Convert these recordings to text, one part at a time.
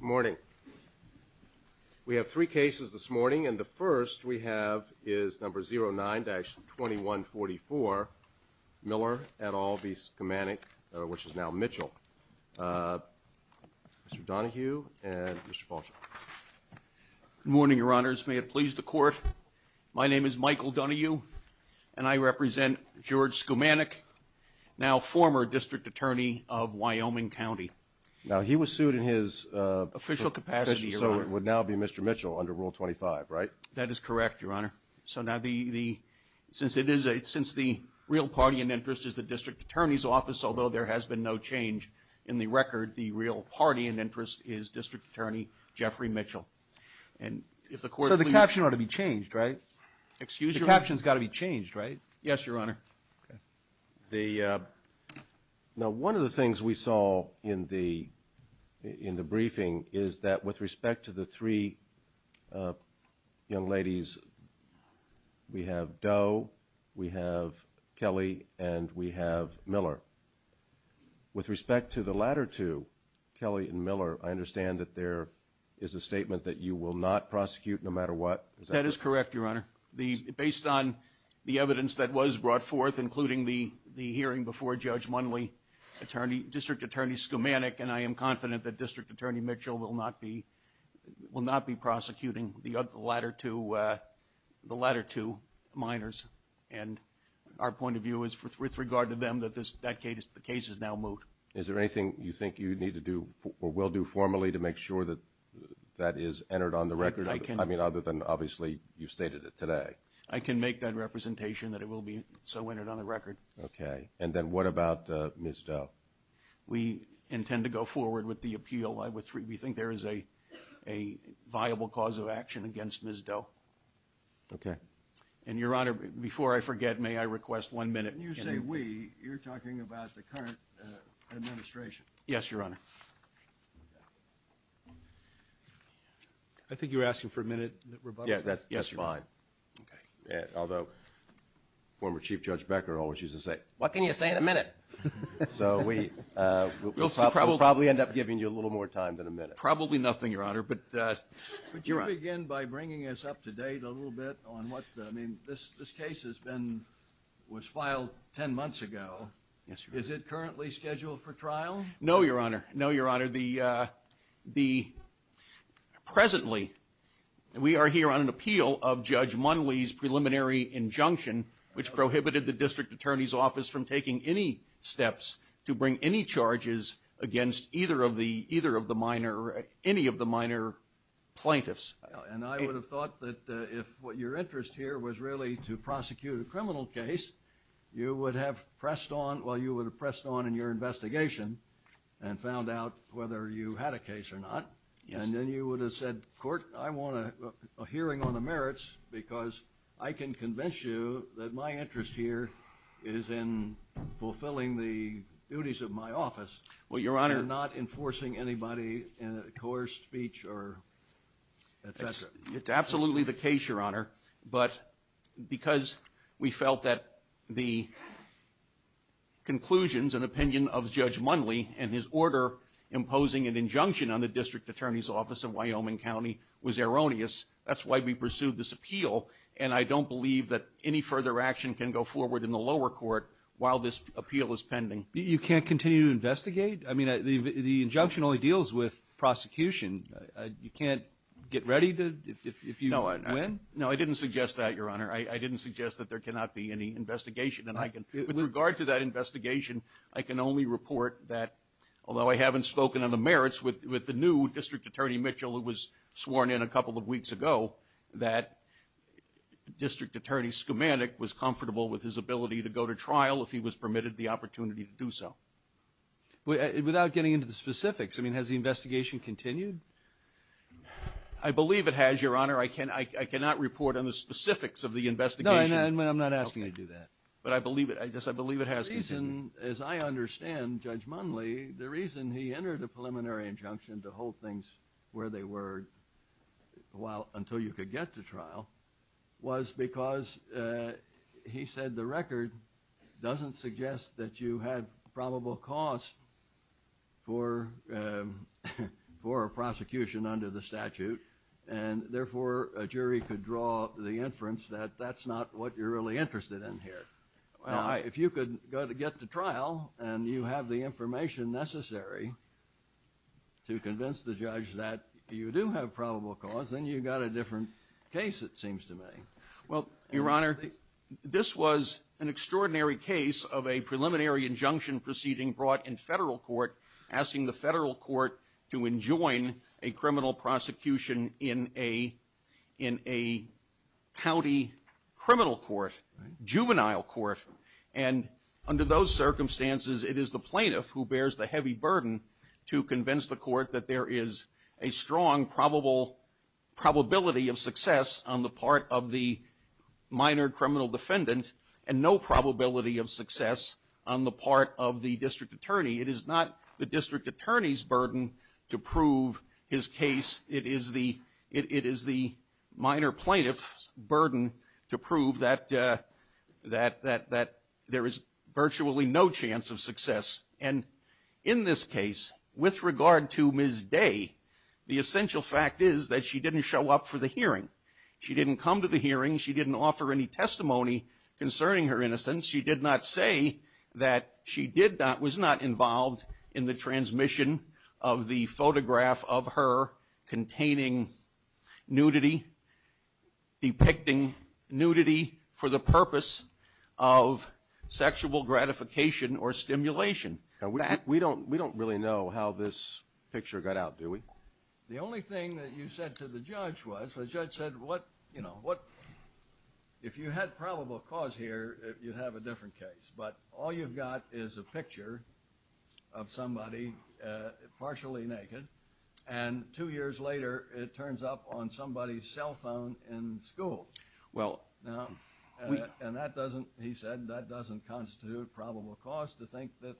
Good morning. We have three cases this morning and the first we have is number 09-2144 Miller et al v. Skumanick, which is now Mitchell. Mr. Donohue and Mr. Paulson. Michael Donohue Good morning, Your Honors. May it please the Court, my name is Michael Donohue and I represent George Skumanick, now former District Attorney of Wyoming County. Now he was sued in his official capacity, so it would now be Mr. Mitchell under Rule 25, right? That is correct, Your Honor. So now the, since it is, since the real party in interest is the District Attorney's office, although there has been no change in the record, the real party in interest is District Attorney Jeffrey Mitchell. And if the Court please... So the caption ought to be changed, right? Excuse your... The caption's got to be changed, right? Yes, Your Honor. The, now one of the things we saw in the briefing is that with respect to the three young ladies, we have Doe, we have Kelly, and we have Miller. With respect to the latter two, Kelly and Miller, I understand that there is a statement that you will not prosecute no matter what. Is that correct? That is correct, Your Honor. Based on the evidence that was brought forth, including the hearing before Judge Munley, District Attorney Skumanick, and I am confident that District Attorney Mitchell will not be prosecuting the latter two minors. And our point of view is with regard to them that the case is now moved. Is there anything you think you need to do or will do formally to make sure that that is entered on the record? I can... I mean, other than obviously you stated it today. I can make that representation that it will be so entered on the record. Okay. And then what about Ms. Doe? We intend to go forward with the appeal. We think there is a viable cause of action against Ms. Doe. Okay. And, Your Honor, before I forget, may I request one minute... When you say we, you're talking about the current administration. Yes, Your Honor. I think you were asking for a minute, Rebuttal? Yes, that's fine. Okay. Although former Chief Judge Becker always used to say, what can you say in a minute? So we'll probably end up giving you a little more time than a minute. Probably nothing, Your Honor, but... But you begin by bringing us up to date a little bit on what, I mean, this case has been, was filed ten months ago. Yes, Your Honor. Is it currently scheduled for trial? No, Your Honor. No, Your Honor. Presently, we are here on an appeal of Judge Munley's preliminary injunction, which prohibited the District Attorney's Office from taking any steps to bring any charges against either of the minor, any of the minor plaintiffs. And I would have thought that if what your interest here was really to prosecute a criminal case, you would have pressed on, well, you would have pressed on in your investigation and found out whether you had a case or not. Yes. And then you would have said, Court, I want a hearing on the merits because I can convince you that my interest here is in fulfilling the duties of my office... Well, Your Honor... ...and not enforcing anybody in a coerced speech or et cetera. It's absolutely the case, Your Honor, but because we felt that the conclusions and opinion of Judge Munley and his order imposing an injunction on the District Attorney's Office in Wyoming County was erroneous, that's why we pursued this appeal. And I don't believe that any further action can go forward in the lower court while this appeal is pending. You can't continue to investigate? I mean, the injunction only deals with prosecution. You can't get ready if you win? No, I didn't suggest that, Your Honor. I didn't suggest that there cannot be any investigation. And with regard to that investigation, I can only report that, although I haven't spoken on the merits, with the new District Attorney Mitchell who was sworn in a couple of weeks ago, that District Attorney Skamanek was comfortable with his ability to go to trial if he was permitted the opportunity to do so. Without getting into the specifics, I mean, has the investigation continued? I believe it has, Your Honor. I cannot report on the specifics of the investigation. No, I'm not asking you to do that. But I believe it has continued. As I understand, Judge Munley, the reason he entered a preliminary injunction to hold things where they were until you could get to trial was because he said the record doesn't suggest that you had probable cause for a prosecution under the statute. And therefore, a jury could draw the inference that that's not what you're really interested in here. If you could get to trial and you have the information necessary to convince the judge that you do have probable cause, then you've got a different case, it seems to me. Well, Your Honor, this was an extraordinary case of a preliminary injunction proceeding brought in federal court asking the federal court to enjoin a criminal prosecution in a county criminal court, juvenile court. And under those circumstances, it is the plaintiff who bears the heavy burden to convince the court that there is a strong probability of success on the part of the minor criminal defendant and no probability of success on the part of the district attorney. It is not the district attorney's burden to prove his case. It is the minor plaintiff's burden to prove that there is virtually no chance of success. And in this case, with regard to Ms. Day, the essential fact is that she didn't show up for the hearing. She didn't come to the hearing. She didn't offer any testimony concerning her innocence. She did not say that she was not involved in the transmission of the photograph of her containing nudity, depicting nudity for the purpose of sexual gratification or stimulation. We don't really know how this picture got out, do we? The only thing that you said to the judge was, the judge said, you know, if you had probable cause here, you'd have a different case. But all you've got is a picture of somebody partially naked, and two years later it turns up on somebody's cell phone in school. And that doesn't, he said, that doesn't constitute probable cause to think that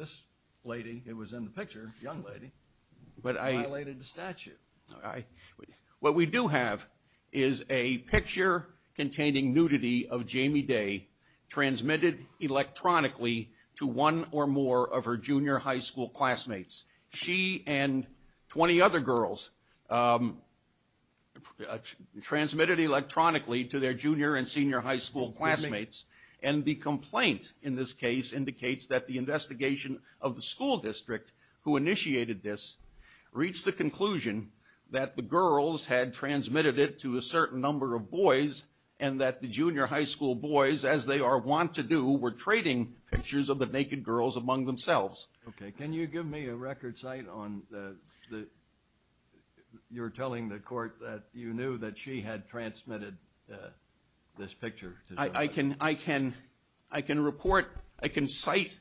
this lady, it was in the picture, young lady, violated the statute. What we do have is a picture containing nudity of Jamie Day, transmitted electronically to one or more of her junior high school classmates. She and 20 other girls transmitted electronically to their junior and senior high school classmates. And the complaint in this case indicates that the investigation of the school district who initiated this reached the conclusion that the girls had transmitted it to a certain number of boys, and that the junior high school boys, as they are wont to do, were trading pictures of the naked girls among themselves. Okay. Can you give me a record cite on the, you're telling the court that you knew that she had transmitted this picture? I can report, I can cite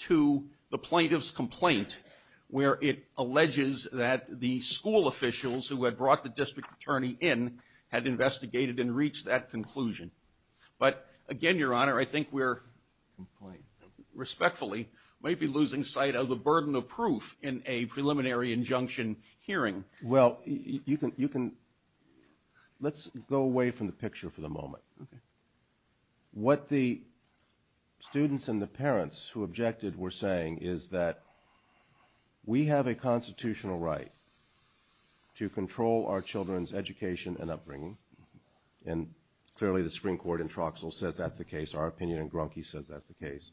to the plaintiff's complaint where it alleges that the school officials who had brought the district attorney in had investigated and reached that conclusion. But again, Your Honor, I think we're, respectfully, might be losing sight of the burden of proof in a preliminary injunction hearing. Well, you can, let's go away from the picture for the moment. Okay. What the students and the parents who objected were saying is that we have a constitutional right to control our children's education and upbringing. And clearly the Supreme Court in Troxell says that's the case. Our opinion in Grunke says that's the case.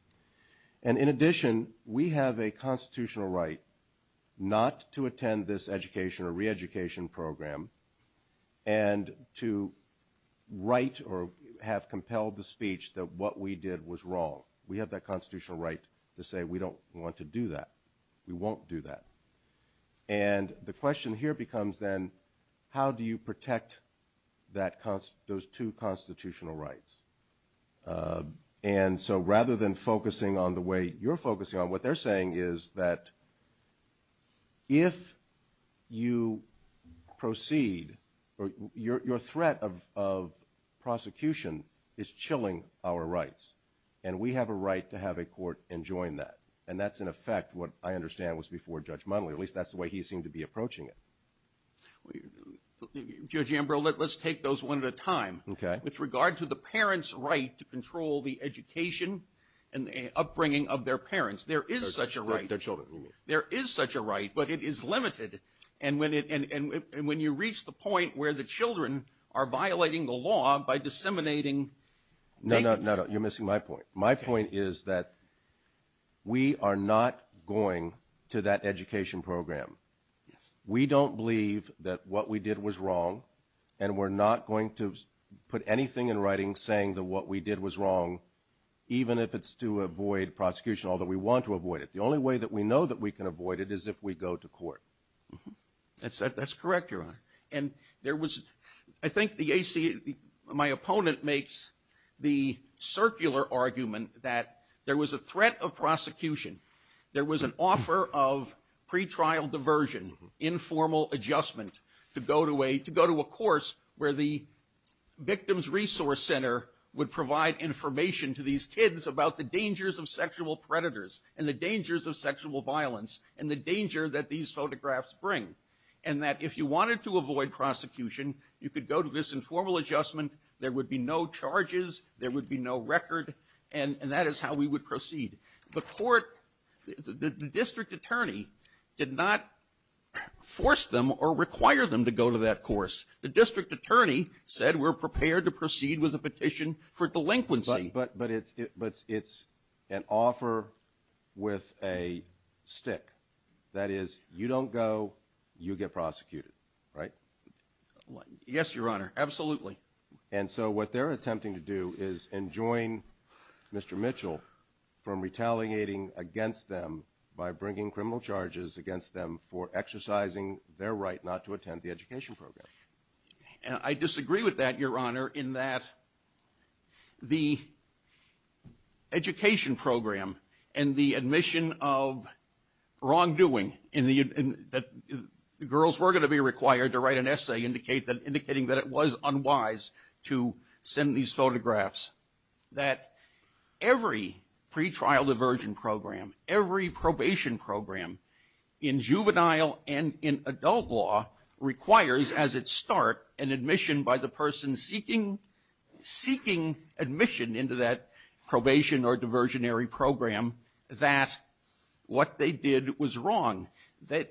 And in addition, we have a constitutional right not to attend this education or reeducation program and to write or have compelled the speech that what we did was wrong. We have that constitutional right to say we don't want to do that. We won't do that. And the question here becomes then how do you protect those two constitutional rights? And so rather than focusing on the way you're focusing on, what they're saying is that if you proceed, your threat of prosecution is chilling our rights. And we have a right to have a court enjoin that. And that's, in effect, what I understand was before Judge Motley. At least that's the way he seemed to be approaching it. Judge Ambrose, let's take those one at a time. Okay. With regard to the parents' right to control the education and the upbringing of their parents, there is such a right. Their children, you mean. There is such a right, but it is limited. And when you reach the point where the children are violating the law by disseminating. No, no, no, you're missing my point. My point is that we are not going to that education program. We don't believe that what we did was wrong, and we're not going to put anything in writing saying that what we did was wrong, even if it's to avoid prosecution, although we want to avoid it. The only way that we know that we can avoid it is if we go to court. That's correct, Your Honor. I think my opponent makes the circular argument that there was a threat of prosecution. There was an offer of pretrial diversion, informal adjustment, to go to a course where the Victim's Resource Center would provide information to these kids about the dangers of sexual predators and the dangers of sexual violence and the danger that these photographs bring. And that if you wanted to avoid prosecution, you could go to this informal adjustment. There would be no charges. There would be no record. And that is how we would proceed. The court, the district attorney did not force them or require them to go to that course. The district attorney said we're prepared to proceed with a petition for delinquency. But it's an offer with a stick. That is, you don't go, you get prosecuted, right? Yes, Your Honor, absolutely. And so what they're attempting to do is enjoin Mr. Mitchell from retaliating against them by bringing criminal charges against them for exercising their right not to attend the education program. I disagree with that, Your Honor, in that the education program and the admission of wrongdoing that the girls were going to be required to write an essay indicating that it was unwise to send these photographs, that every pretrial diversion program, every probation program, in juvenile and in adult law requires, as its start, an admission by the person seeking admission into that probation or diversionary program that what they did was wrong. The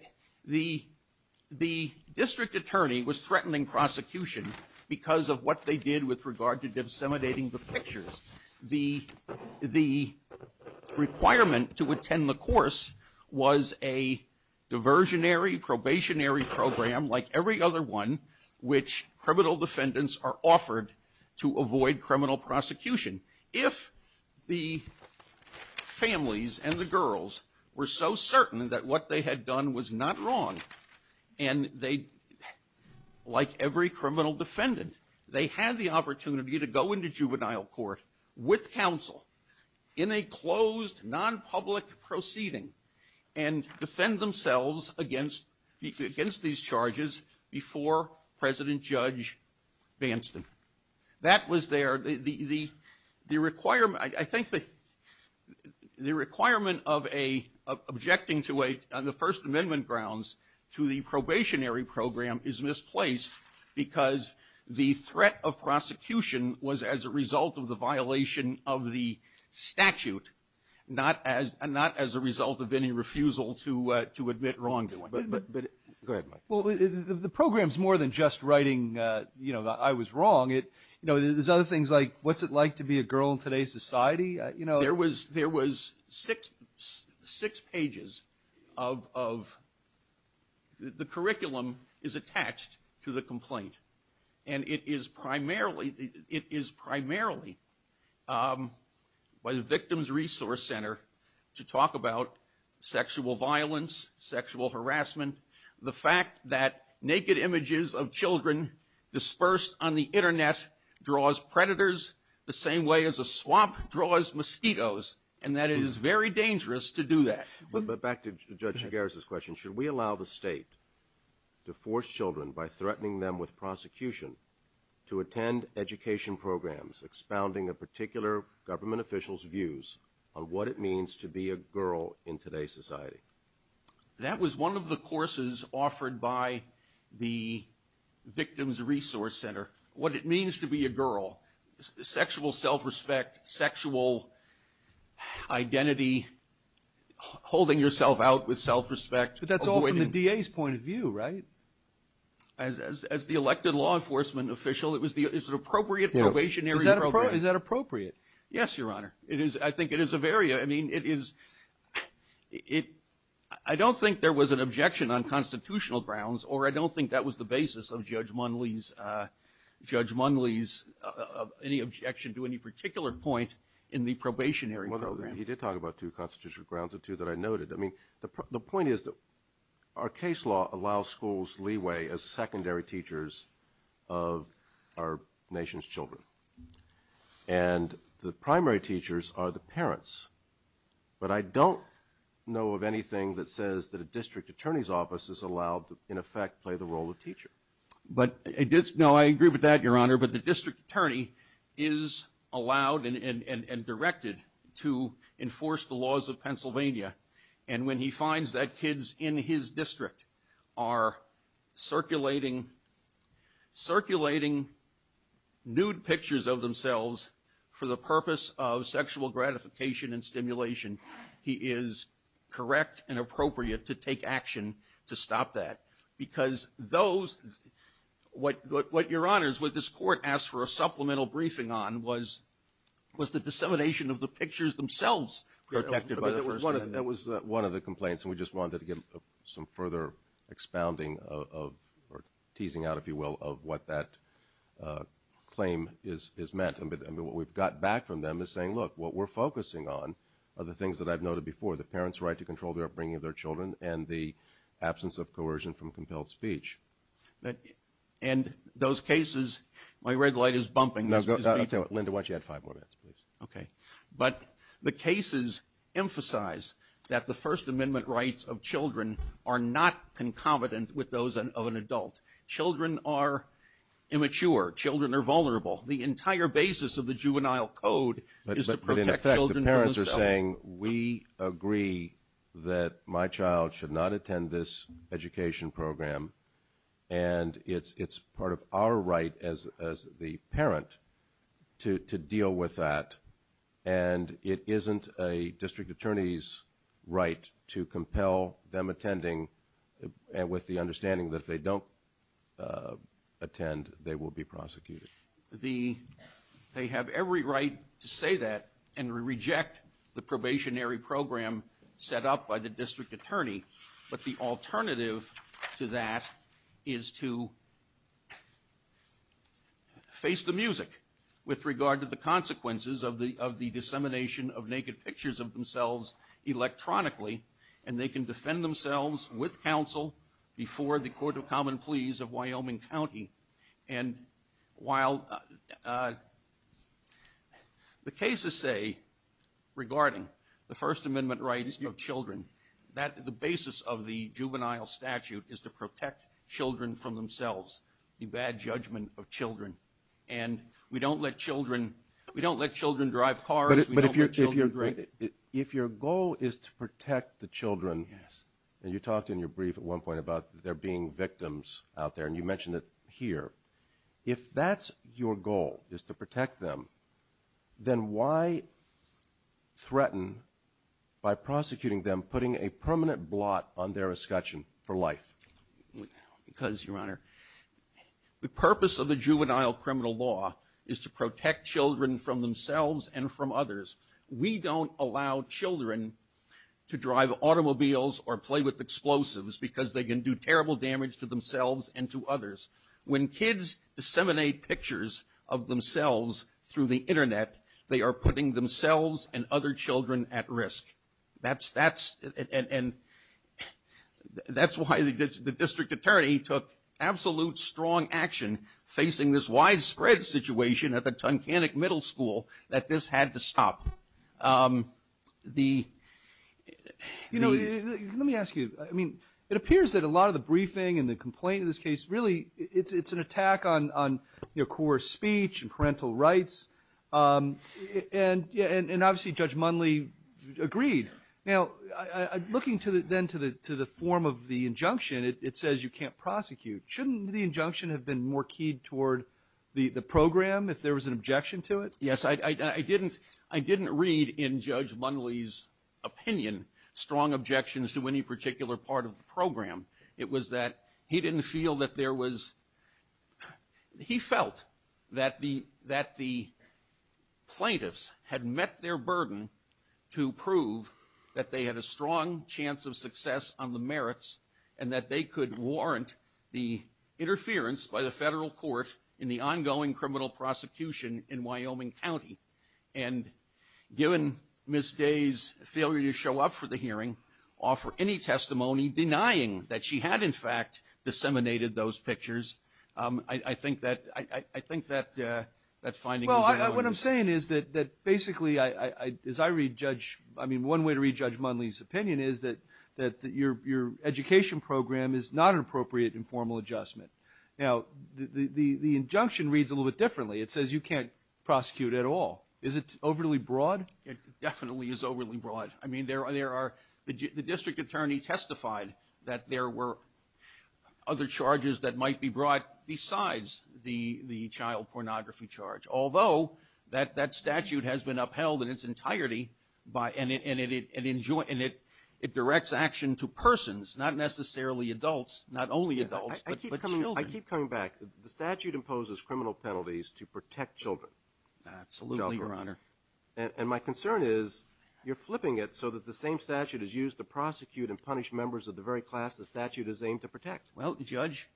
district attorney was threatening prosecution because of what they did with regard to disseminating the pictures. The requirement to attend the course was a diversionary, probationary program like every other one which criminal defendants are offered to avoid criminal prosecution. If the families and the girls were so certain that what they had done was not wrong, and they, like every criminal defendant, they had the opportunity to go into juvenile court with counsel in a closed, non-public proceeding and defend themselves against these charges before President Judge Banston. That was their, the requirement, I think the requirement of a, of objecting on the First Amendment grounds to the probationary program is misplaced because the threat of prosecution was as a result of the violation of the statute, not as a result of any refusal to admit wrongdoing. Go ahead, Mike. Well, the program's more than just writing, you know, that I was wrong. You know, there's other things like, what's it like to be a girl in today's society? There was six pages of, the curriculum is attached to the complaint. And it is primarily by the Victims Resource Center to talk about sexual violence, sexual harassment, the fact that naked images of children dispersed on the Internet draws predators the same way as a swamp draws mosquitoes, and that it is very dangerous to do that. But back to Judge Chigares' question, should we allow the state to force children by threatening them with prosecution to attend education programs expounding a particular government official's views on what it means to be a girl in today's society? That was one of the courses offered by the Victims Resource Center, what it means to be a girl, sexual self-respect, sexual identity, holding yourself out with self-respect. But that's all from the DA's point of view, right? As the elected law enforcement official, it was the appropriate probationary program. Is that appropriate? Yes, Your Honor. I think it is a very, I mean, it is, I don't think there was an objection on constitutional grounds, or I don't think that was the basis of Judge Munley's, any objection to any particular point in the probationary program. Well, he did talk about two constitutional grounds or two that I noted. I mean, the point is that our case law allows schools leeway as secondary teachers of our nation's children. And the primary teachers are the parents. But I don't know of anything that says that a district attorney's office is allowed to, in effect, play the role of teacher. No, I agree with that, Your Honor. But the district attorney is allowed and directed to enforce the laws of Pennsylvania. And when he finds that kids in his district are circulating nude pictures of themselves he is correct and appropriate to take action to stop that. Because those, what Your Honor, what this court asked for a supplemental briefing on was the dissemination of the pictures themselves. That was one of the complaints, and we just wanted to get some further expounding of, or teasing out, if you will, of what that claim has meant. But what we've got back from them is saying, look, what we're focusing on are the things that I've noted before. The parents' right to control the upbringing of their children and the absence of coercion from compelled speech. And those cases, my red light is bumping. Linda, why don't you add five more minutes, please? Okay. But the cases emphasize that the First Amendment rights of children are not concomitant with those of an adult. Children are immature. Children are vulnerable. The entire basis of the Juvenile Code is to protect children from the self. But in effect, the parents are saying, we agree that my child should not attend this education program, and it's part of our right as the parent to deal with that. And it isn't a district attorney's right to compel them attending with the understanding that if they don't attend, they will be prosecuted. They have every right to say that and reject the probationary program set up by the district attorney. But the alternative to that is to face the music with regard to the consequences of the dissemination of naked pictures of themselves electronically, and they can defend themselves with counsel before the Court of Common Pleas of Wyoming County. And while the cases say, regarding the First Amendment rights of children, that the basis of the juvenile statute is to protect children from themselves, the bad judgment of children. And we don't let children drive cars. But if your goal is to protect the children, and you talked in your brief at one point about there being victims out there, and you mentioned it here. If that's your goal, is to protect them, then why threaten by prosecuting them, putting a permanent blot on their escutcheon for life? Because, Your Honor, the purpose of the juvenile criminal law is to protect children from themselves and from others. We don't allow children to drive automobiles or play with explosives because they can do terrible damage to themselves and to others. When kids disseminate pictures of themselves through the Internet, they are putting themselves and other children at risk. And that's why the district attorney took absolute strong action in facing this widespread situation at the Tunkhannock Middle School that this had to stop. Let me ask you. I mean, it appears that a lot of the briefing and the complaint in this case, really it's an attack on core speech and parental rights. And obviously Judge Munley agreed. Now, looking then to the form of the injunction, it says you can't prosecute. Shouldn't the injunction have been more keyed toward the program if there was an objection to it? Yes. I didn't read in Judge Munley's opinion strong objections to any particular part of the program. It was that he didn't feel that there was he felt that the plaintiffs had met their burden to prove that they had a strong chance of success on the merits and that they could warrant the interference by the federal court in the ongoing criminal prosecution in Wyoming County. And given Ms. Day's failure to show up for the hearing, offer any testimony denying that she had, in fact, disseminated those pictures, I think that finding was erroneous. Well, what I'm saying is that basically, as I read Judge, Judge Munley's opinion is that your education program is not an appropriate informal adjustment. Now, the injunction reads a little bit differently. It says you can't prosecute at all. Is it overly broad? It definitely is overly broad. I mean, the district attorney testified that there were other charges that might be brought besides the child pornography charge, although that statute has been upheld in its entirety and it directs action to persons, not necessarily adults, not only adults, but children. I keep coming back. The statute imposes criminal penalties to protect children. Absolutely, Your Honor. And my concern is you're flipping it so that the same statute is used to prosecute and punish members of the very class the statute is aimed to protect. Well, Judge,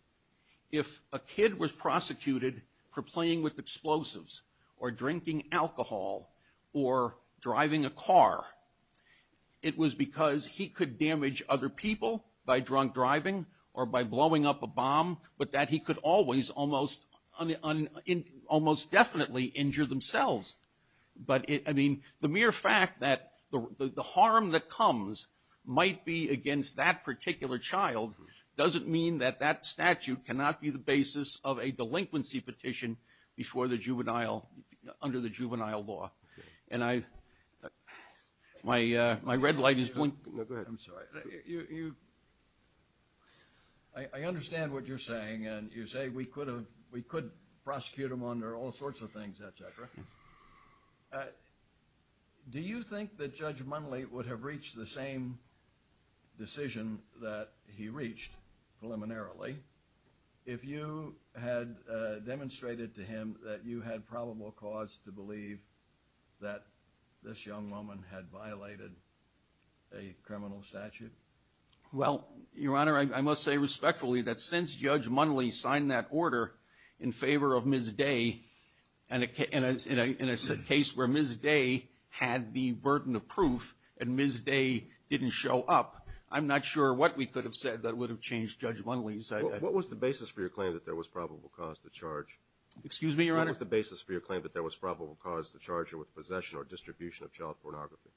if a kid was prosecuted for playing with explosives or drinking alcohol or driving a car, it was because he could damage other people by drunk driving or by blowing up a bomb, but that he could almost definitely injure themselves. But, I mean, the mere fact that the harm that comes might be against that particular child doesn't mean that that statute cannot be the basis of a delinquency petition before the juvenile, under the juvenile law. And I, my red light is blinking. No, go ahead. I'm sorry. I understand what you're saying, and you say we could prosecute him under all sorts of things, et cetera. Yes. Do you think that Judge Munley would have reached the same decision that he reached preliminarily if you had demonstrated to him that you had probable cause to believe that this young woman had violated a criminal statute? Well, Your Honor, I must say respectfully that since Judge Munley signed that order in favor of Ms. Day and it's a case where Ms. Day had the burden of proof and Ms. Day didn't show up, I'm not sure what we could have said that would have changed Judge Munley's decision. What was the basis for your claim that there was probable cause to charge? Excuse me, Your Honor? What was the basis for your claim that there was probable cause to charge her with possession or distribution of child pornography?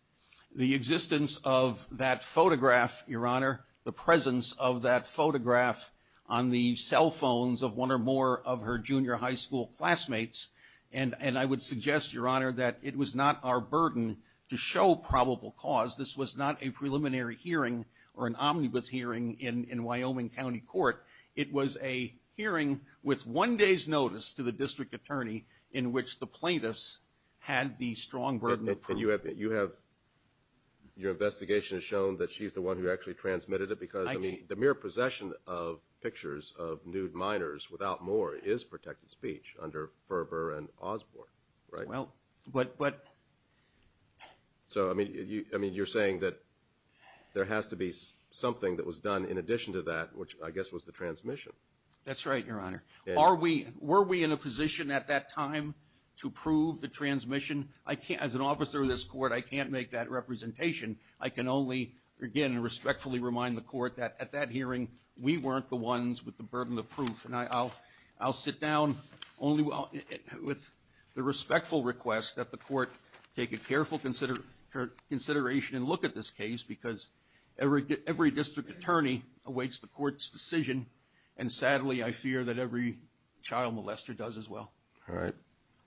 The existence of that photograph, Your Honor, the presence of that photograph on the cell phones of one or more of her junior high school classmates, and I would suggest, Your Honor, that it was not our burden to show probable cause. This was not a preliminary hearing or an omnibus hearing in Wyoming County Court. It was a hearing with one day's notice to the district attorney in which the plaintiffs had the strong burden of proof. And you have, your investigation has shown that she's the one who actually transmitted it because the mere possession of pictures of nude minors without more is protected speech under Ferber and Osborne, right? Well, but... So, I mean, you're saying that there has to be something that was done in addition to that, which I guess was the transmission. That's right, Your Honor. Were we in a position at that time to prove the transmission? As an officer of this court, I can't make that representation. I can only, again, respectfully remind the court that at that hearing, we weren't the ones with the burden of proof. And I'll sit down only with the respectful request that the court take a careful consideration and look at this case because every district attorney awaits the court's decision. And sadly, I fear that every child molester does as well. All right.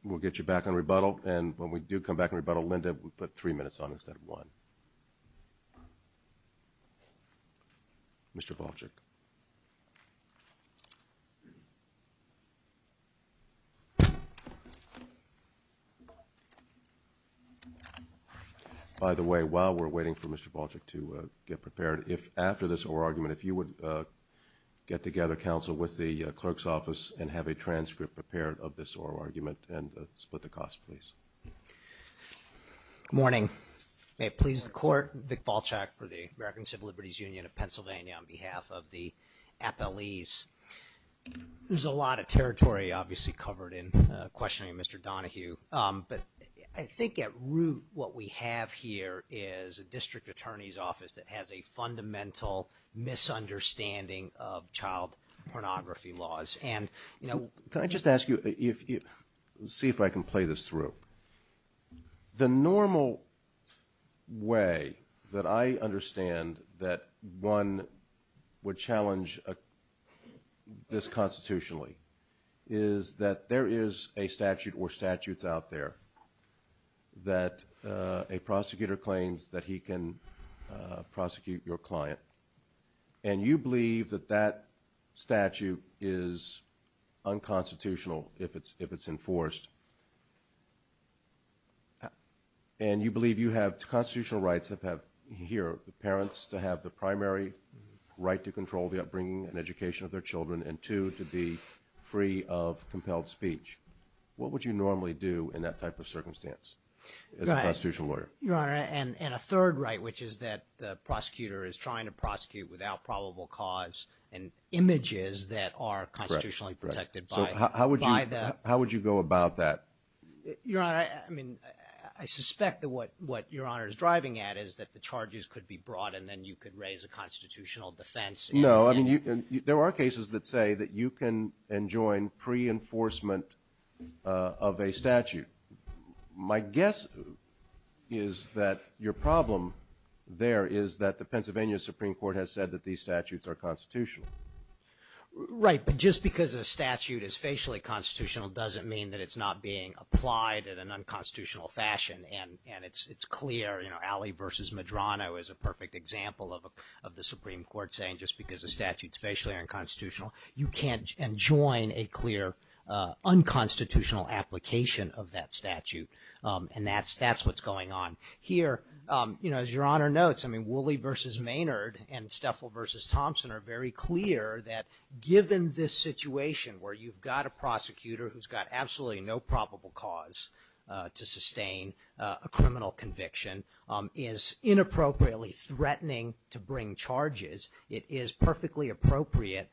We'll get you back on rebuttal. And when we do come back on rebuttal, Linda, we'll put three minutes on instead of one. Mr. Volchek. By the way, while we're waiting for Mr. Volchek to get prepared, after this oral argument, if you would get together, counsel, with the clerk's office and have a transcript prepared of this oral argument and split the cost, please. Good morning. May it please the Court, Vic Volchek for the American Civil Liberties Union of Pennsylvania on behalf of the appellees. There's a lot of territory, obviously, covered in questioning of Mr. Donohue. But I think at root what we have here is a district attorney's office that has a fundamental misunderstanding of child pornography laws. And, you know... Can I just ask you, see if I can play this through. The normal way that I understand that one would challenge this constitutionally is that there is a statute or statutes out there that a prosecutor claims that he can prosecute your client. And you believe that that statute is unconstitutional if it's enforced. And you believe you have constitutional rights here, the parents to have the primary right to control the upbringing and education of their children and two, to be free of compelled speech. What would you normally do in that type of circumstance as a constitutional lawyer? Your Honor, and a third right, which is that the prosecutor is trying to prosecute without probable cause and images that are constitutionally protected by the... So how would you go about that? Your Honor, I mean, I suspect that what Your Honor is driving at is that the charges could be brought and then you could raise a constitutional defense. No, I mean, there are cases that say that you can enjoin pre-enforcement of a statute. My guess is that your problem there is that the Pennsylvania Supreme Court has said that these statutes are constitutional. Right, but just because a statute is facially constitutional doesn't mean that it's not being applied in an unconstitutional fashion. And it's clear, you know, Alley v. Medrano is a perfect example of the Supreme Court saying just because a statute is facially unconstitutional, you can't enjoin a clear unconstitutional application of that statute. And that's what's going on here. You know, as Your Honor notes, I mean, Woolley v. Maynard and Steffel v. Thompson are very clear that given this situation where you've got a prosecutor who's got absolutely no probable cause to sustain a criminal conviction is inappropriately threatening to bring charges, it is perfectly appropriate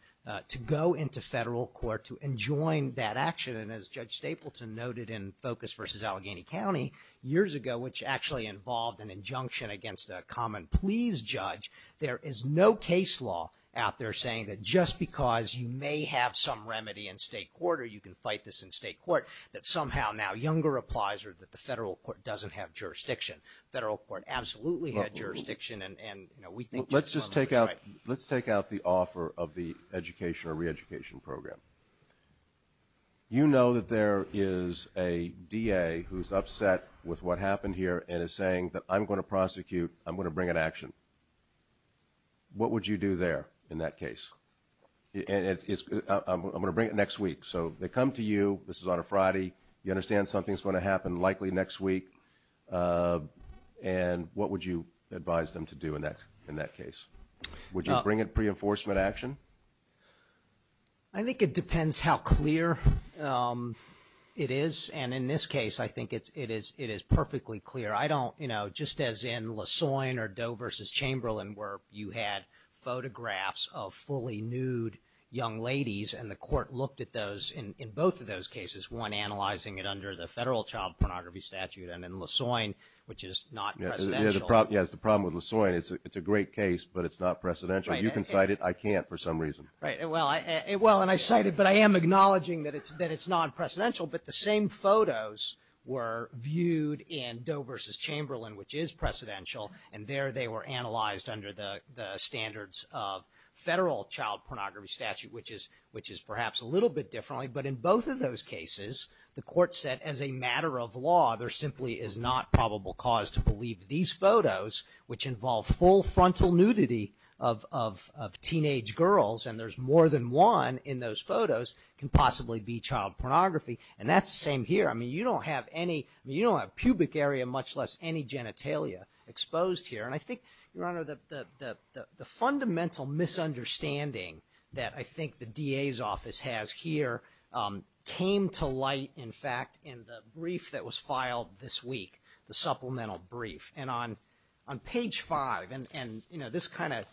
to go into federal court to enjoin that action. And as Judge Stapleton noted in Focus v. Allegheny County years ago, which actually involved an injunction against a common pleas judge, there is no case law out there saying that just because you may have some remedy in state court or you can fight this in state court that somehow now Younger applies or that the federal court doesn't have jurisdiction. Federal court absolutely had jurisdiction and we think Judge Thompson is right. Let's just take out the offer of the education or reeducation program. You know that there is a DA who's upset with what happened here and is saying that I'm going to prosecute, I'm going to bring an action. What would you do there in that case? I'm going to bring it next week. So they come to you, this is on a Friday, you understand something's going to happen likely next week, and what would you advise them to do in that case? Would you bring it pre-enforcement action? I think it depends how clear it is, and in this case I think it is perfectly clear. I don't, you know, just as in Lassoin or Doe v. Chamberlain where you had photographs of fully nude young ladies and the court looked at those in both of those cases, one analyzing it under the federal child pornography statute and then Lassoin, which is not precedential. Yes, the problem with Lassoin, it's a great case, but it's not precedential. You can cite it, I can't for some reason. Right, well, and I cite it, but I am acknowledging that it's not precedential, but the same photos were viewed in Doe v. Chamberlain, which is precedential, and there they were analyzed under the standards of federal child pornography statute, which is perhaps a little bit differently, but in both of those cases the court said as a matter of law there simply is not probable cause to believe these photos, which involve full frontal nudity of teenage girls, and there's more than one in those photos can possibly be child pornography, and that's the same here. I mean, you don't have pubic area, much less any genitalia exposed here, and I think, Your Honor, the fundamental misunderstanding that I think the DA's office has here came to light, in fact, in the brief that was filed this week, the supplemental brief, and on page five, and, you know, this kind of,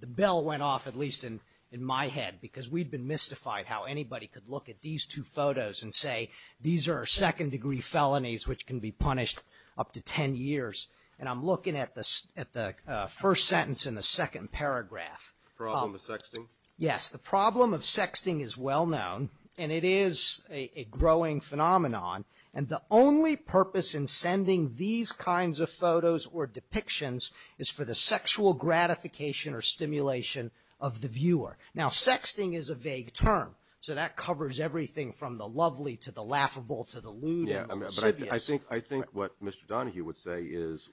the bell went off at least in my head because we'd been mystified how anybody could look at these two photos and say these are second-degree felonies which can be punished up to 10 years, and I'm looking at the first sentence in the second paragraph. Problem of sexting? Yes, the problem of sexting is well known, and it is a growing phenomenon, and the only purpose in sending these kinds of photos or depictions is for the sexual gratification or stimulation of the viewer. Now, sexting is a vague term, so that covers everything from the lovely to the laughable to the lewd and the insidious. Yeah, but I think what Mr. Donahue would say is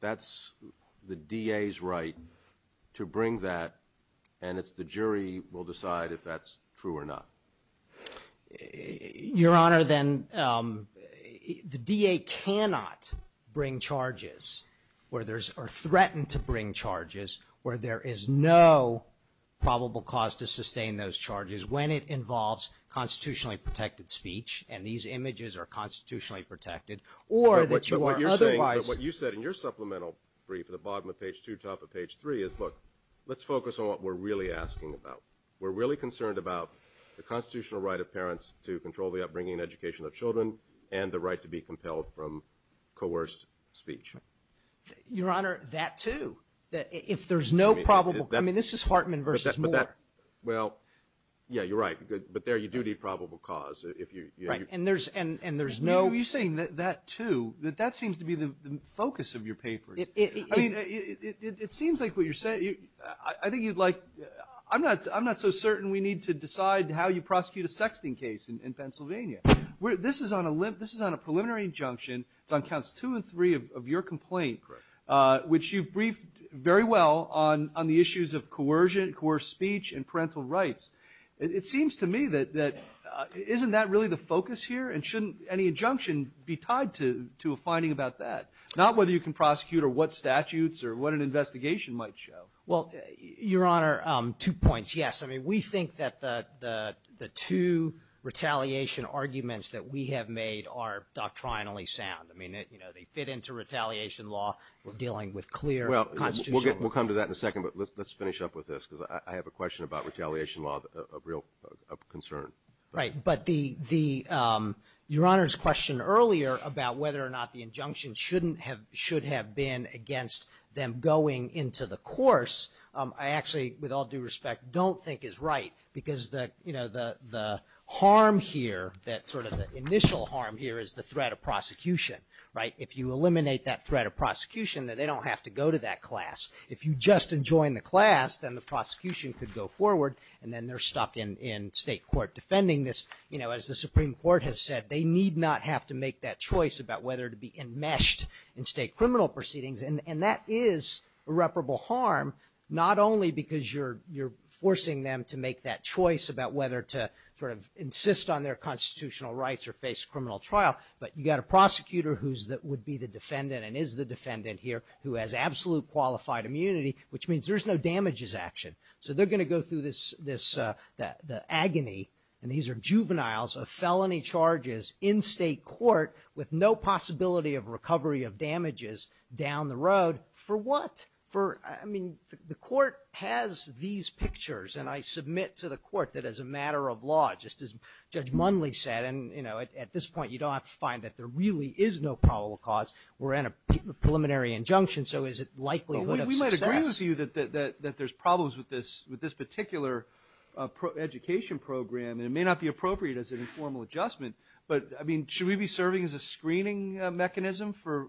that's the DA's right to bring that, and it's the jury will decide if that's true or not. Your Honor, then, the DA cannot bring charges or threaten to bring charges where there is no probable cause to sustain those charges when it involves constitutionally protected speech, and these images are constitutionally protected, or that you are otherwise... But what you're saying, but what you said in your supplemental brief, at the bottom of page two, top of page three, is, look, let's focus on what we're really asking about. We're really concerned about the constitutional right of parents to control the upbringing and education of children and the right to be compelled from coerced speech. Your Honor, that, too. If there's no probable... I mean, this is Hartman versus Moore. Well, yeah, you're right. But there you do need probable cause. Right, and there's no... You're saying that, too, that that seems to be the focus of your paper. I mean, it seems like what you're saying... I think you'd like... I'm not so certain we need to decide how you prosecute a sexting case in Pennsylvania. This is on a preliminary injunction. It's on counts two and three of your complaint, which you've briefed very well on the issues of coercion, coerced speech, and parental rights. It seems to me that isn't that really the focus here, and shouldn't any injunction be tied to a finding about that? Not whether you can prosecute or what statutes or what an investigation might show. Well, Your Honor, two points. Yes, I mean, we think that the two retaliation arguments that we have made are doctrinally sound. I mean, they fit into retaliation law. We're dealing with clear constitutional... Well, we'll come to that in a second, but let's finish up with this, because I have a question about retaliation law of real concern. Right, but the... Your Honor's question earlier about whether or not the injunction should have been against them going into the course, I actually, with all due respect, don't think is right, because the harm here, that sort of the initial harm here is the threat of prosecution, right? If you eliminate that threat of prosecution, then they don't have to go to that class. If you just enjoin the class, then the prosecution could go forward, and then they're stopped in state court defending this. You know, as the Supreme Court has said, they need not have to make that choice about whether to be enmeshed in state criminal proceedings, and that is irreparable harm, not only because you're forcing them to make that choice about whether to sort of insist on their constitutional rights or face criminal trial, but you've got a prosecutor who would be the defendant and is the defendant here, who has absolute qualified immunity, which means there's no damages action. So they're going to go through this agony, and these are juveniles of felony charges in state court with no possibility of recovery of damages down the road. For what? For, I mean, the court has these pictures, and I submit to the court that as a matter of law, just as Judge Mundley said, and, you know, at this point, you don't have to find that there really is no probable cause. We're in a preliminary injunction, so is it likelihood of success? We might agree with you that there's problems with this particular education program, and it may not be appropriate as an informal adjustment, but, I mean, should we be serving as a screening mechanism for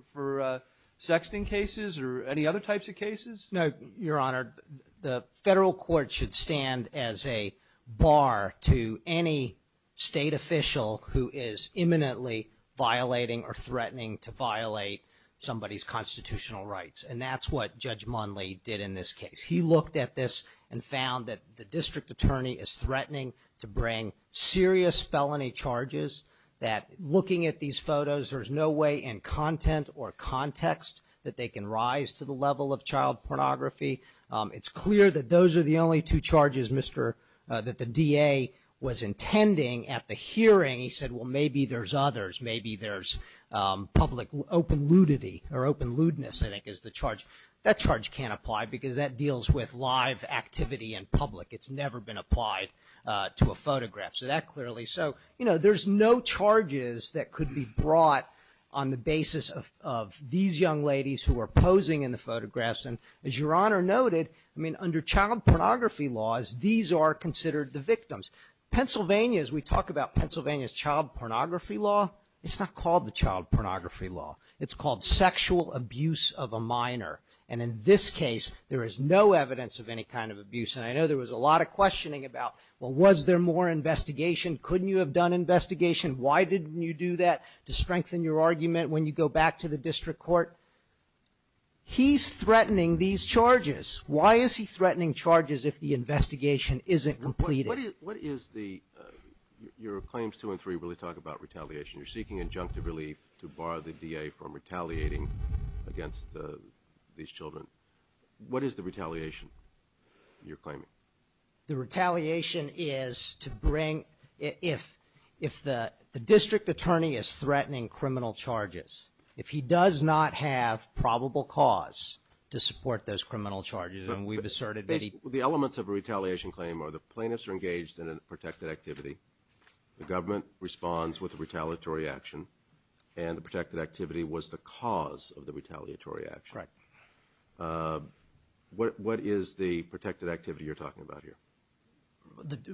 sexting cases or any other types of cases? No, Your Honor. The federal court should stand as a bar to any state official who is imminently violating or threatening to violate somebody's constitutional rights, and that's what Judge Mundley did in this case. He looked at this and found that the district attorney is threatening to bring serious felony charges, that looking at these photos, there's no way in content or context that they can rise to the level of child pornography. It's clear that those are the only two charges, Mr. – that the DA was intending at the hearing. He said, well, maybe there's others. Maybe there's public open ludity or open ludeness, I think, is the charge. That charge can't apply because that deals with live activity in public. It's never been applied to a photograph, so that clearly – so, you know, there's no charges that could be brought on the basis of these young ladies who are posing in the photographs, and as Your Honor noted, I mean, under child pornography laws, these are considered the victims. Pennsylvania, as we talk about Pennsylvania's child pornography law, it's not called the child pornography law. It's called sexual abuse of a minor, and in this case, there is no evidence of any kind of abuse, and I know there was a lot of questioning about, well, was there more investigation? Couldn't you have done investigation? Why didn't you do that to strengthen your argument when you go back to the district court? He's threatening these charges. Why is he threatening charges if the investigation isn't completed? What is the – your claims two and three really talk about retaliation. You're seeking injunctive relief to bar the DA from retaliating against these children. What is the retaliation you're claiming? The retaliation is to bring – if the district attorney is threatening criminal charges, if he does not have probable cause to support those criminal charges, and we've asserted that he – The elements of a retaliation claim are the plaintiffs are engaged in a protected activity. The government responds with a retaliatory action, and the protected activity was the cause of the retaliatory action. Right. What is the protected activity you're talking about here?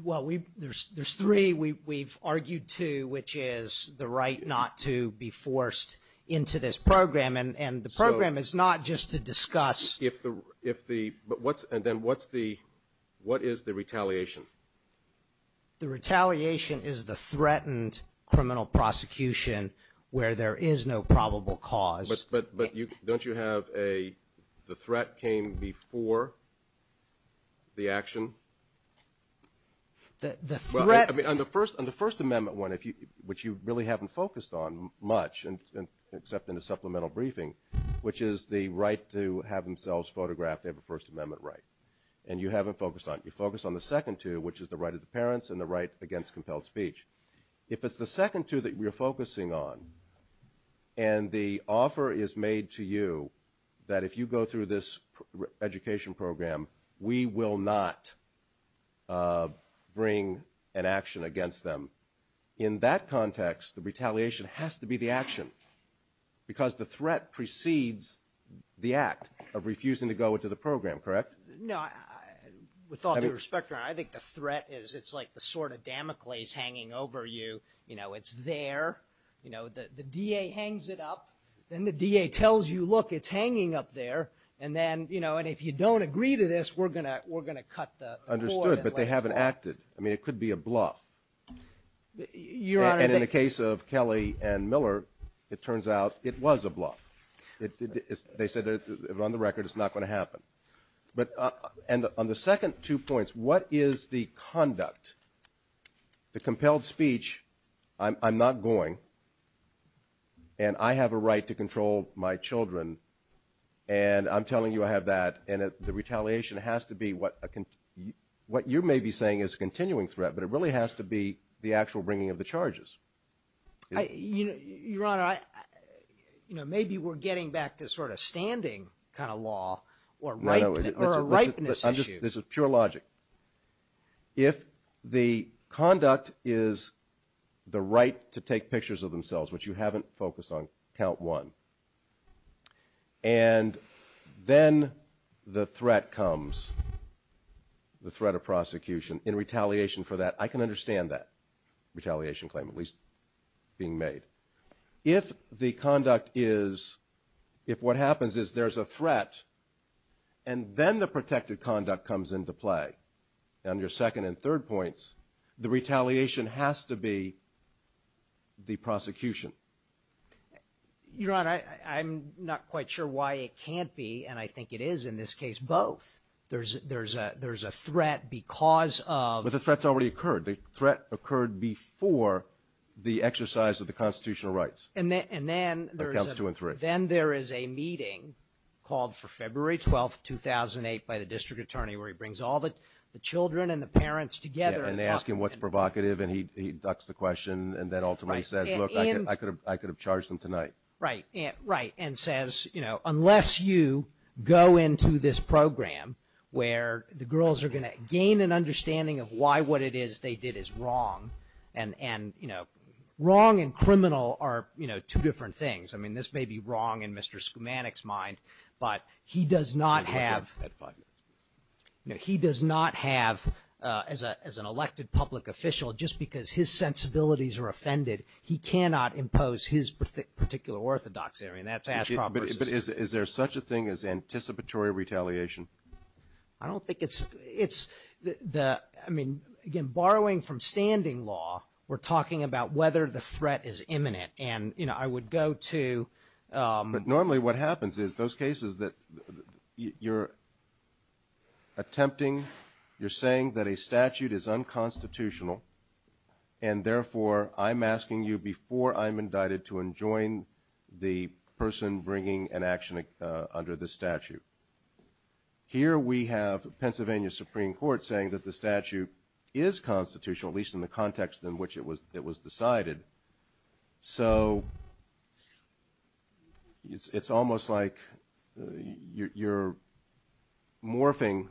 Well, we – there's three. We've argued two, which is the right not to be forced into this program, and the program is not just to discuss – If the – but what's – and then what's the – what is the retaliation? The retaliation is the threatened criminal prosecution where there is no probable cause. But don't you have a – the threat came before the action? The threat – Well, I mean, on the First Amendment one, which you really haven't focused on much, except in the supplemental briefing, which is the right to have themselves photographed, they have a First Amendment right, and you haven't focused on it. You focus on the second two, which is the right of the parents and the right against compelled speech. If it's the second two that you're focusing on and the offer is made to you that if you go through this education program, we will not bring an action against them, in that context, the retaliation has to be the action because the threat precedes the act of refusing to go into the program, correct? No. With all due respect, Your Honor, I think the threat is it's like the sword of Damocles hanging over you. You know, it's there. You know, the DA hangs it up. Then the DA tells you, look, it's hanging up there. And then, you know, and if you don't agree to this, we're going to cut the cord. Understood, but they haven't acted. I mean, it could be a bluff. Your Honor, they – And in the case of Kelly and Miller, it turns out it was a bluff. They said on the record it's not going to happen. But – and on the second two points, what is the conduct? The compelled speech, I'm not going, and I have a right to control my children, and I'm telling you I have that, and the retaliation has to be what a – what you may be saying is a continuing threat, but it really has to be the actual bringing of the charges. You know, Your Honor, you know, maybe we're getting back to sort of standing kind of law or a ripeness issue. This is pure logic. If the conduct is the right to take pictures of themselves, which you haven't focused on, count one, and then the threat comes, the threat of prosecution, in retaliation for that, I can understand that, retaliation claim at least being made. If the conduct is – if what happens is there's a threat and then the protected conduct comes into play, on your second and third points, the retaliation has to be the prosecution. Your Honor, I'm not quite sure why it can't be, and I think it is in this case, both. There's a threat because of – But the threat's already occurred. The threat occurred before the exercise of the constitutional rights. And then there is a meeting called for February 12th, 2008, by the district attorney where he brings all the children and the parents together. Yeah, and they ask him what's provocative, and he ducks the question and then ultimately says, look, I could have charged them tonight. Right, right, and says, you know, unless you go into this program where the girls are going to gain an understanding of why what it is they did is wrong. And, you know, wrong and criminal are, you know, two different things. I mean, this may be wrong in Mr. Skoumanik's mind, but he does not have – he does not have, as an elected public official, just because his sensibilities are offended, he cannot impose his particular orthodoxy. I mean, that's – But is there such a thing as anticipatory retaliation? I don't think it's – I mean, again, borrowing from standing law, we're talking about whether the threat is imminent. And, you know, I would go to – But normally what happens is those cases that you're attempting, you're saying that a statute is unconstitutional, and therefore I'm asking you before I'm indicted to enjoin the person bringing an action under the statute. Here we have Pennsylvania Supreme Court saying that the statute is constitutional, at least in the context in which it was decided. So it's almost like you're morphing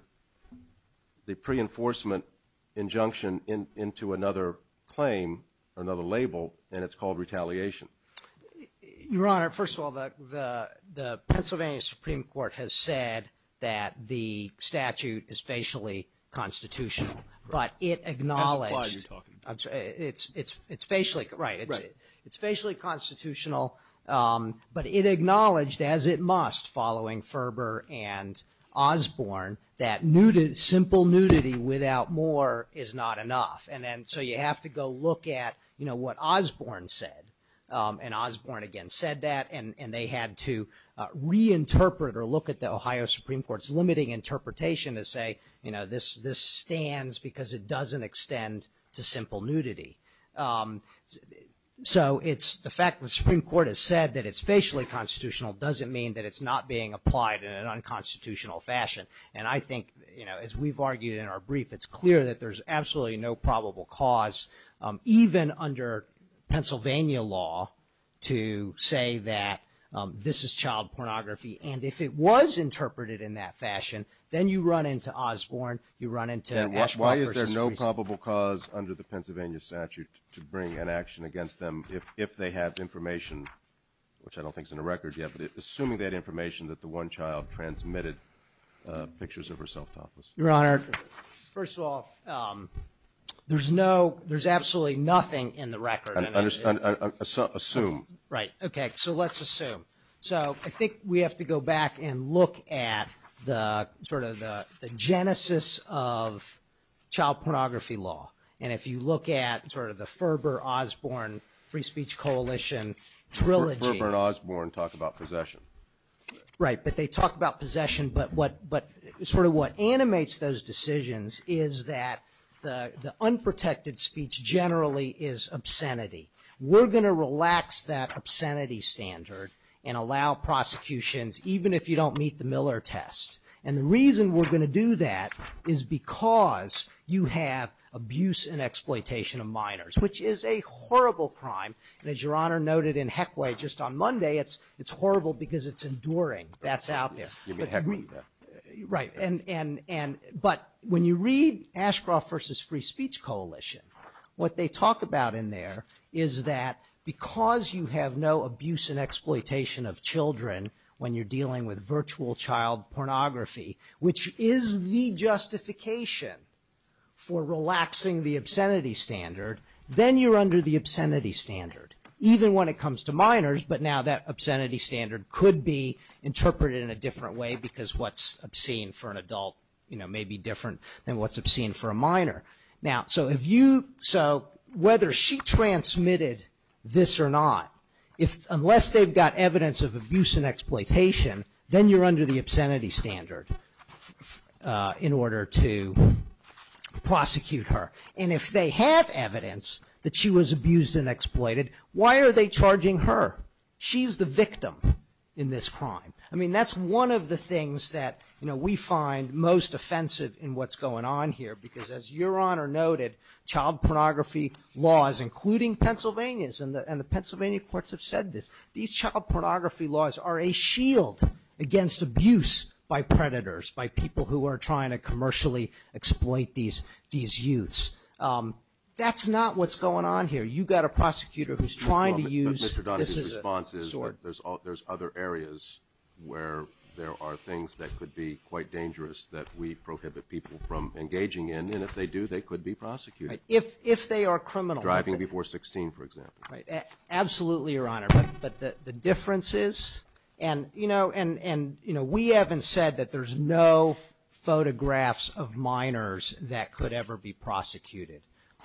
the pre-enforcement injunction into another claim, another label, and it's called retaliation. Your Honor, first of all, the Pennsylvania Supreme Court has said that the statute is facially constitutional, but it acknowledged – That's the clause you're talking about. It's facially – right. Right. It's facially constitutional, but it acknowledged as it must following Ferber and Osborne that simple nudity without more is not enough. And so you have to go look at, you know, what Osborne said. And Osborne again said that, and they had to reinterpret or look at the Ohio Supreme Court's limiting interpretation to say, you know, this stands because it doesn't extend to simple nudity. So it's the fact that the Supreme Court has said that it's facially constitutional doesn't mean that it's not being applied in an unconstitutional fashion. And I think, you know, as we've argued in our brief, it's clear that there's absolutely no probable cause, even under Pennsylvania law, to say that this is child pornography. And if it was interpreted in that fashion, then you run into Osborne, you run into Washburn versus Reese. And why is there no probable cause under the Pennsylvania statute to bring an action against them if they have information, which I don't think is in the record yet, but assuming that information that the one child transmitted pictures of herself. Your Honor, first of all, there's absolutely nothing in the record. Assume. Right, okay, so let's assume. So I think we have to go back and look at sort of the genesis of child pornography law. And if you look at sort of the Ferber-Osborne Free Speech Coalition trilogy. Ferber and Osborne talk about possession. Right, but they talk about possession. But sort of what animates those decisions is that the unprotected speech generally is obscenity. We're going to relax that obscenity standard and allow prosecutions, even if you don't meet the Miller test. And the reason we're going to do that is because you have abuse and exploitation of minors, which is a horrible crime. And as Your Honor noted in Heckway just on Monday, it's horrible because it's enduring. That's out there. You mean Heckway? Right. But when you read Ashcroft v. Free Speech Coalition, what they talk about in there is that because you have no abuse and exploitation of children when you're dealing with virtual child pornography, which is the justification for relaxing the obscenity standard, then you're under the obscenity standard, even when it comes to minors. But now that obscenity standard could be interpreted in a different way because what's obscene for an adult may be different than what's obscene for a minor. So whether she transmitted this or not, unless they've got evidence of abuse and exploitation, then you're under the obscenity standard in order to prosecute her. And if they have evidence that she was abused and exploited, why are they charging her? She's the victim in this crime. I mean, that's one of the things that we find most offensive in what's going on here because as Your Honor noted, child pornography laws, including Pennsylvania's, and the Pennsylvania courts have said this, these child pornography laws are a shield against abuse by predators, by people who are trying to commercially exploit these youths. That's not what's going on here. You've got a prosecutor who's trying to use this as a sword. But Mr. Donahue's response is there's other areas where there are things that could be quite dangerous that we prohibit people from engaging in, and if they do, they could be prosecuted. If they are criminal. Driving before 16, for example. Absolutely, Your Honor. But the difference is, and, you know, we haven't said that there's no photographs of minors that could ever be prosecuted.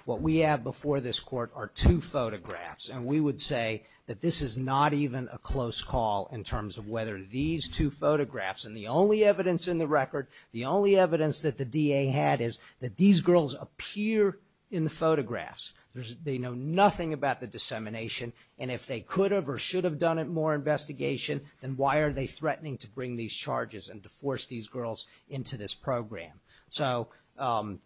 What we have before this Court are two photographs, and we would say that this is not even a close call in terms of whether these two photographs, and the only evidence in the record, the only evidence that the DA had is that these girls appear in the photographs. They know nothing about the dissemination, and if they could have or should have done more investigation, then why are they threatening to bring these charges and to force these girls into this program? So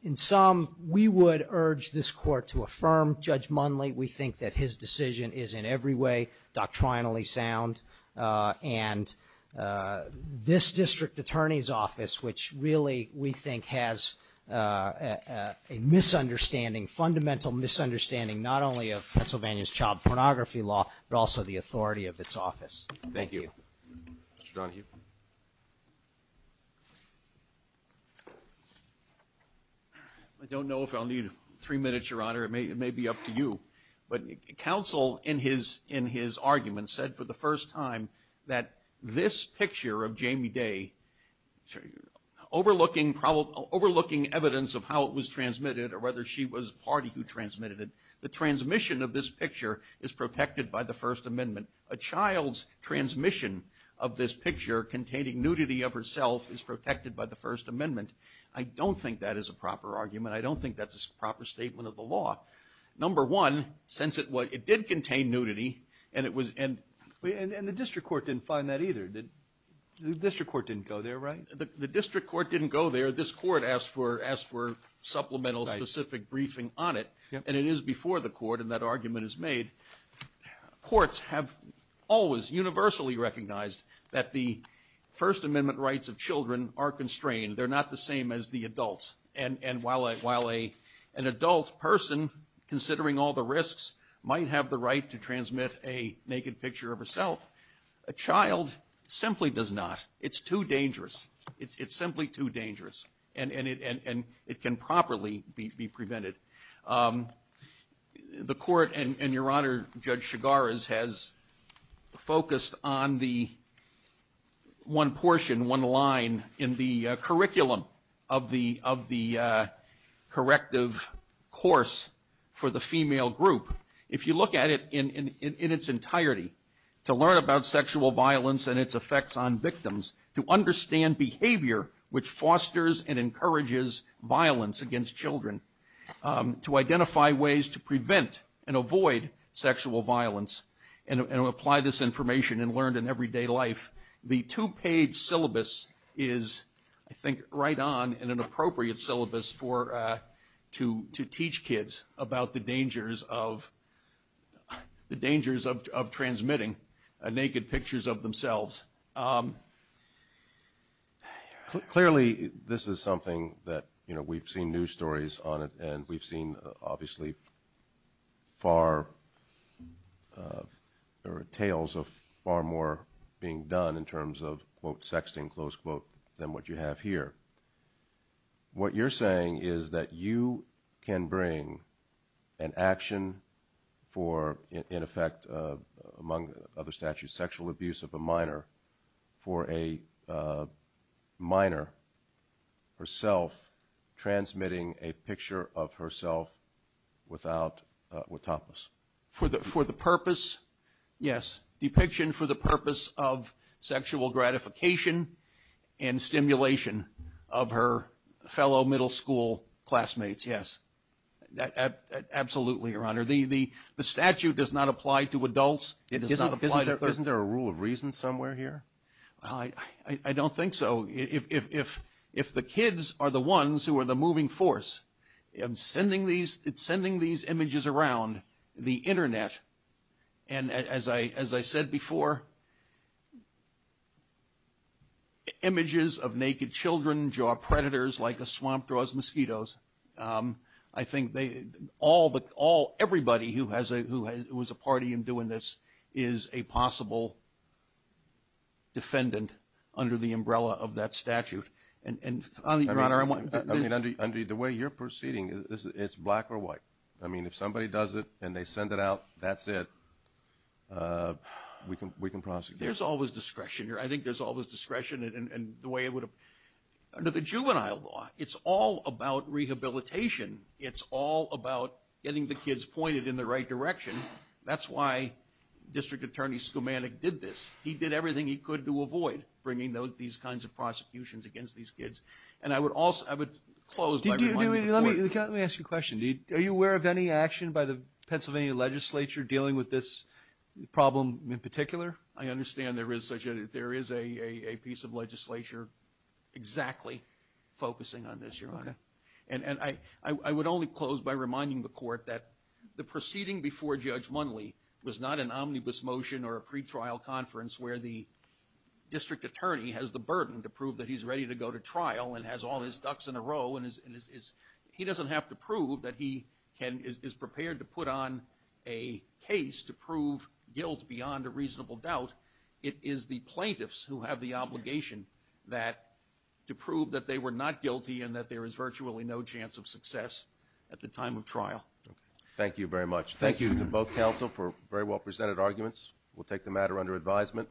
in sum, we would urge this Court to affirm Judge Munley. We think that his decision is in every way doctrinally sound. And this District Attorney's Office, which really we think has a misunderstanding, fundamental misunderstanding, not only of Pennsylvania's child pornography law, but also the authority of its office. Thank you. Mr. Donahue. I don't know if I'll need three minutes, Your Honor. It may be up to you. But counsel in his argument said for the first time that this picture of Jamie Day, overlooking evidence of how it was transmitted or whether she was the party who transmitted it, the transmission of this picture is protected by the First Amendment. A child's transmission of this picture containing nudity of herself is protected by the First Amendment. I don't think that is a proper argument. I don't think that's a proper statement of the law. Number one, since it did contain nudity and it was end. And the district court didn't find that either. The district court didn't go there, right? The district court didn't go there. This court asked for supplemental specific briefing on it. And it is before the court, and that argument is made. Courts have always universally recognized that the First Amendment rights of children are constrained. They're not the same as the adults. And while an adult person, considering all the risks, might have the right to transmit a naked picture of herself, a child simply does not. It's too dangerous. It's simply too dangerous. And it can properly be prevented. The court, and your Honor, Judge Chigares, has focused on the one portion, one line, in the curriculum of the corrective course for the female group. If you look at it in its entirety, to learn about sexual violence and its effects on victims, to understand behavior which fosters and encourages violence against children, to identify ways to prevent and avoid sexual violence, and apply this information and learn in everyday life, the two-page syllabus is, I think, right on, and an appropriate syllabus to teach kids about the dangers of transmitting naked pictures of themselves. Clearly, this is something that we've seen news stories on it, we've seen, obviously, far or tales of far more being done in terms of, quote, sexting, close quote, than what you have here. What you're saying is that you can bring an action for, in effect, among other statutes, sexual abuse of a minor, for a minor, herself, transmitting a picture of herself without a topos. For the purpose, yes. Depiction for the purpose of sexual gratification and stimulation of her fellow middle school classmates, yes. Absolutely, Your Honor. The statute does not apply to adults. Isn't there a rule of reason somewhere here? I don't think so. If the kids are the ones who are the moving force in sending these images around the Internet, and as I said before, images of naked children draw predators like a swamp draws mosquitoes. I think everybody who was a party in doing this is a possible defendant under the umbrella of that statute. Your Honor, the way you're proceeding, it's black or white. I mean, if somebody does it and they send it out, that's it. We can prosecute. There's always discretion here. I think there's always discretion in the way it would have. Under the juvenile law, it's all about rehabilitation. It's all about getting the kids pointed in the right direction. That's why District Attorney Skoumanik did this. He did everything he could to avoid bringing these kinds of prosecutions against these kids. And I would close by reminding the court. Let me ask you a question. Are you aware of any action by the Pennsylvania legislature dealing with this problem in particular? I understand there is a piece of legislature exactly focusing on this, Your Honor. And I would only close by reminding the court that the proceeding before Judge Munley was not an omnibus motion or a pretrial conference where the district attorney has the burden to prove that he's ready to go to trial and has all his ducks in a row. He doesn't have to prove that he is prepared to put on a case to prove guilt beyond a reasonable doubt. It is the plaintiffs who have the obligation to prove that they were not guilty and that there is virtually no chance of success at the time of trial. Thank you very much. Thank you to both counsel for very well presented arguments. We'll take the matter under advisement.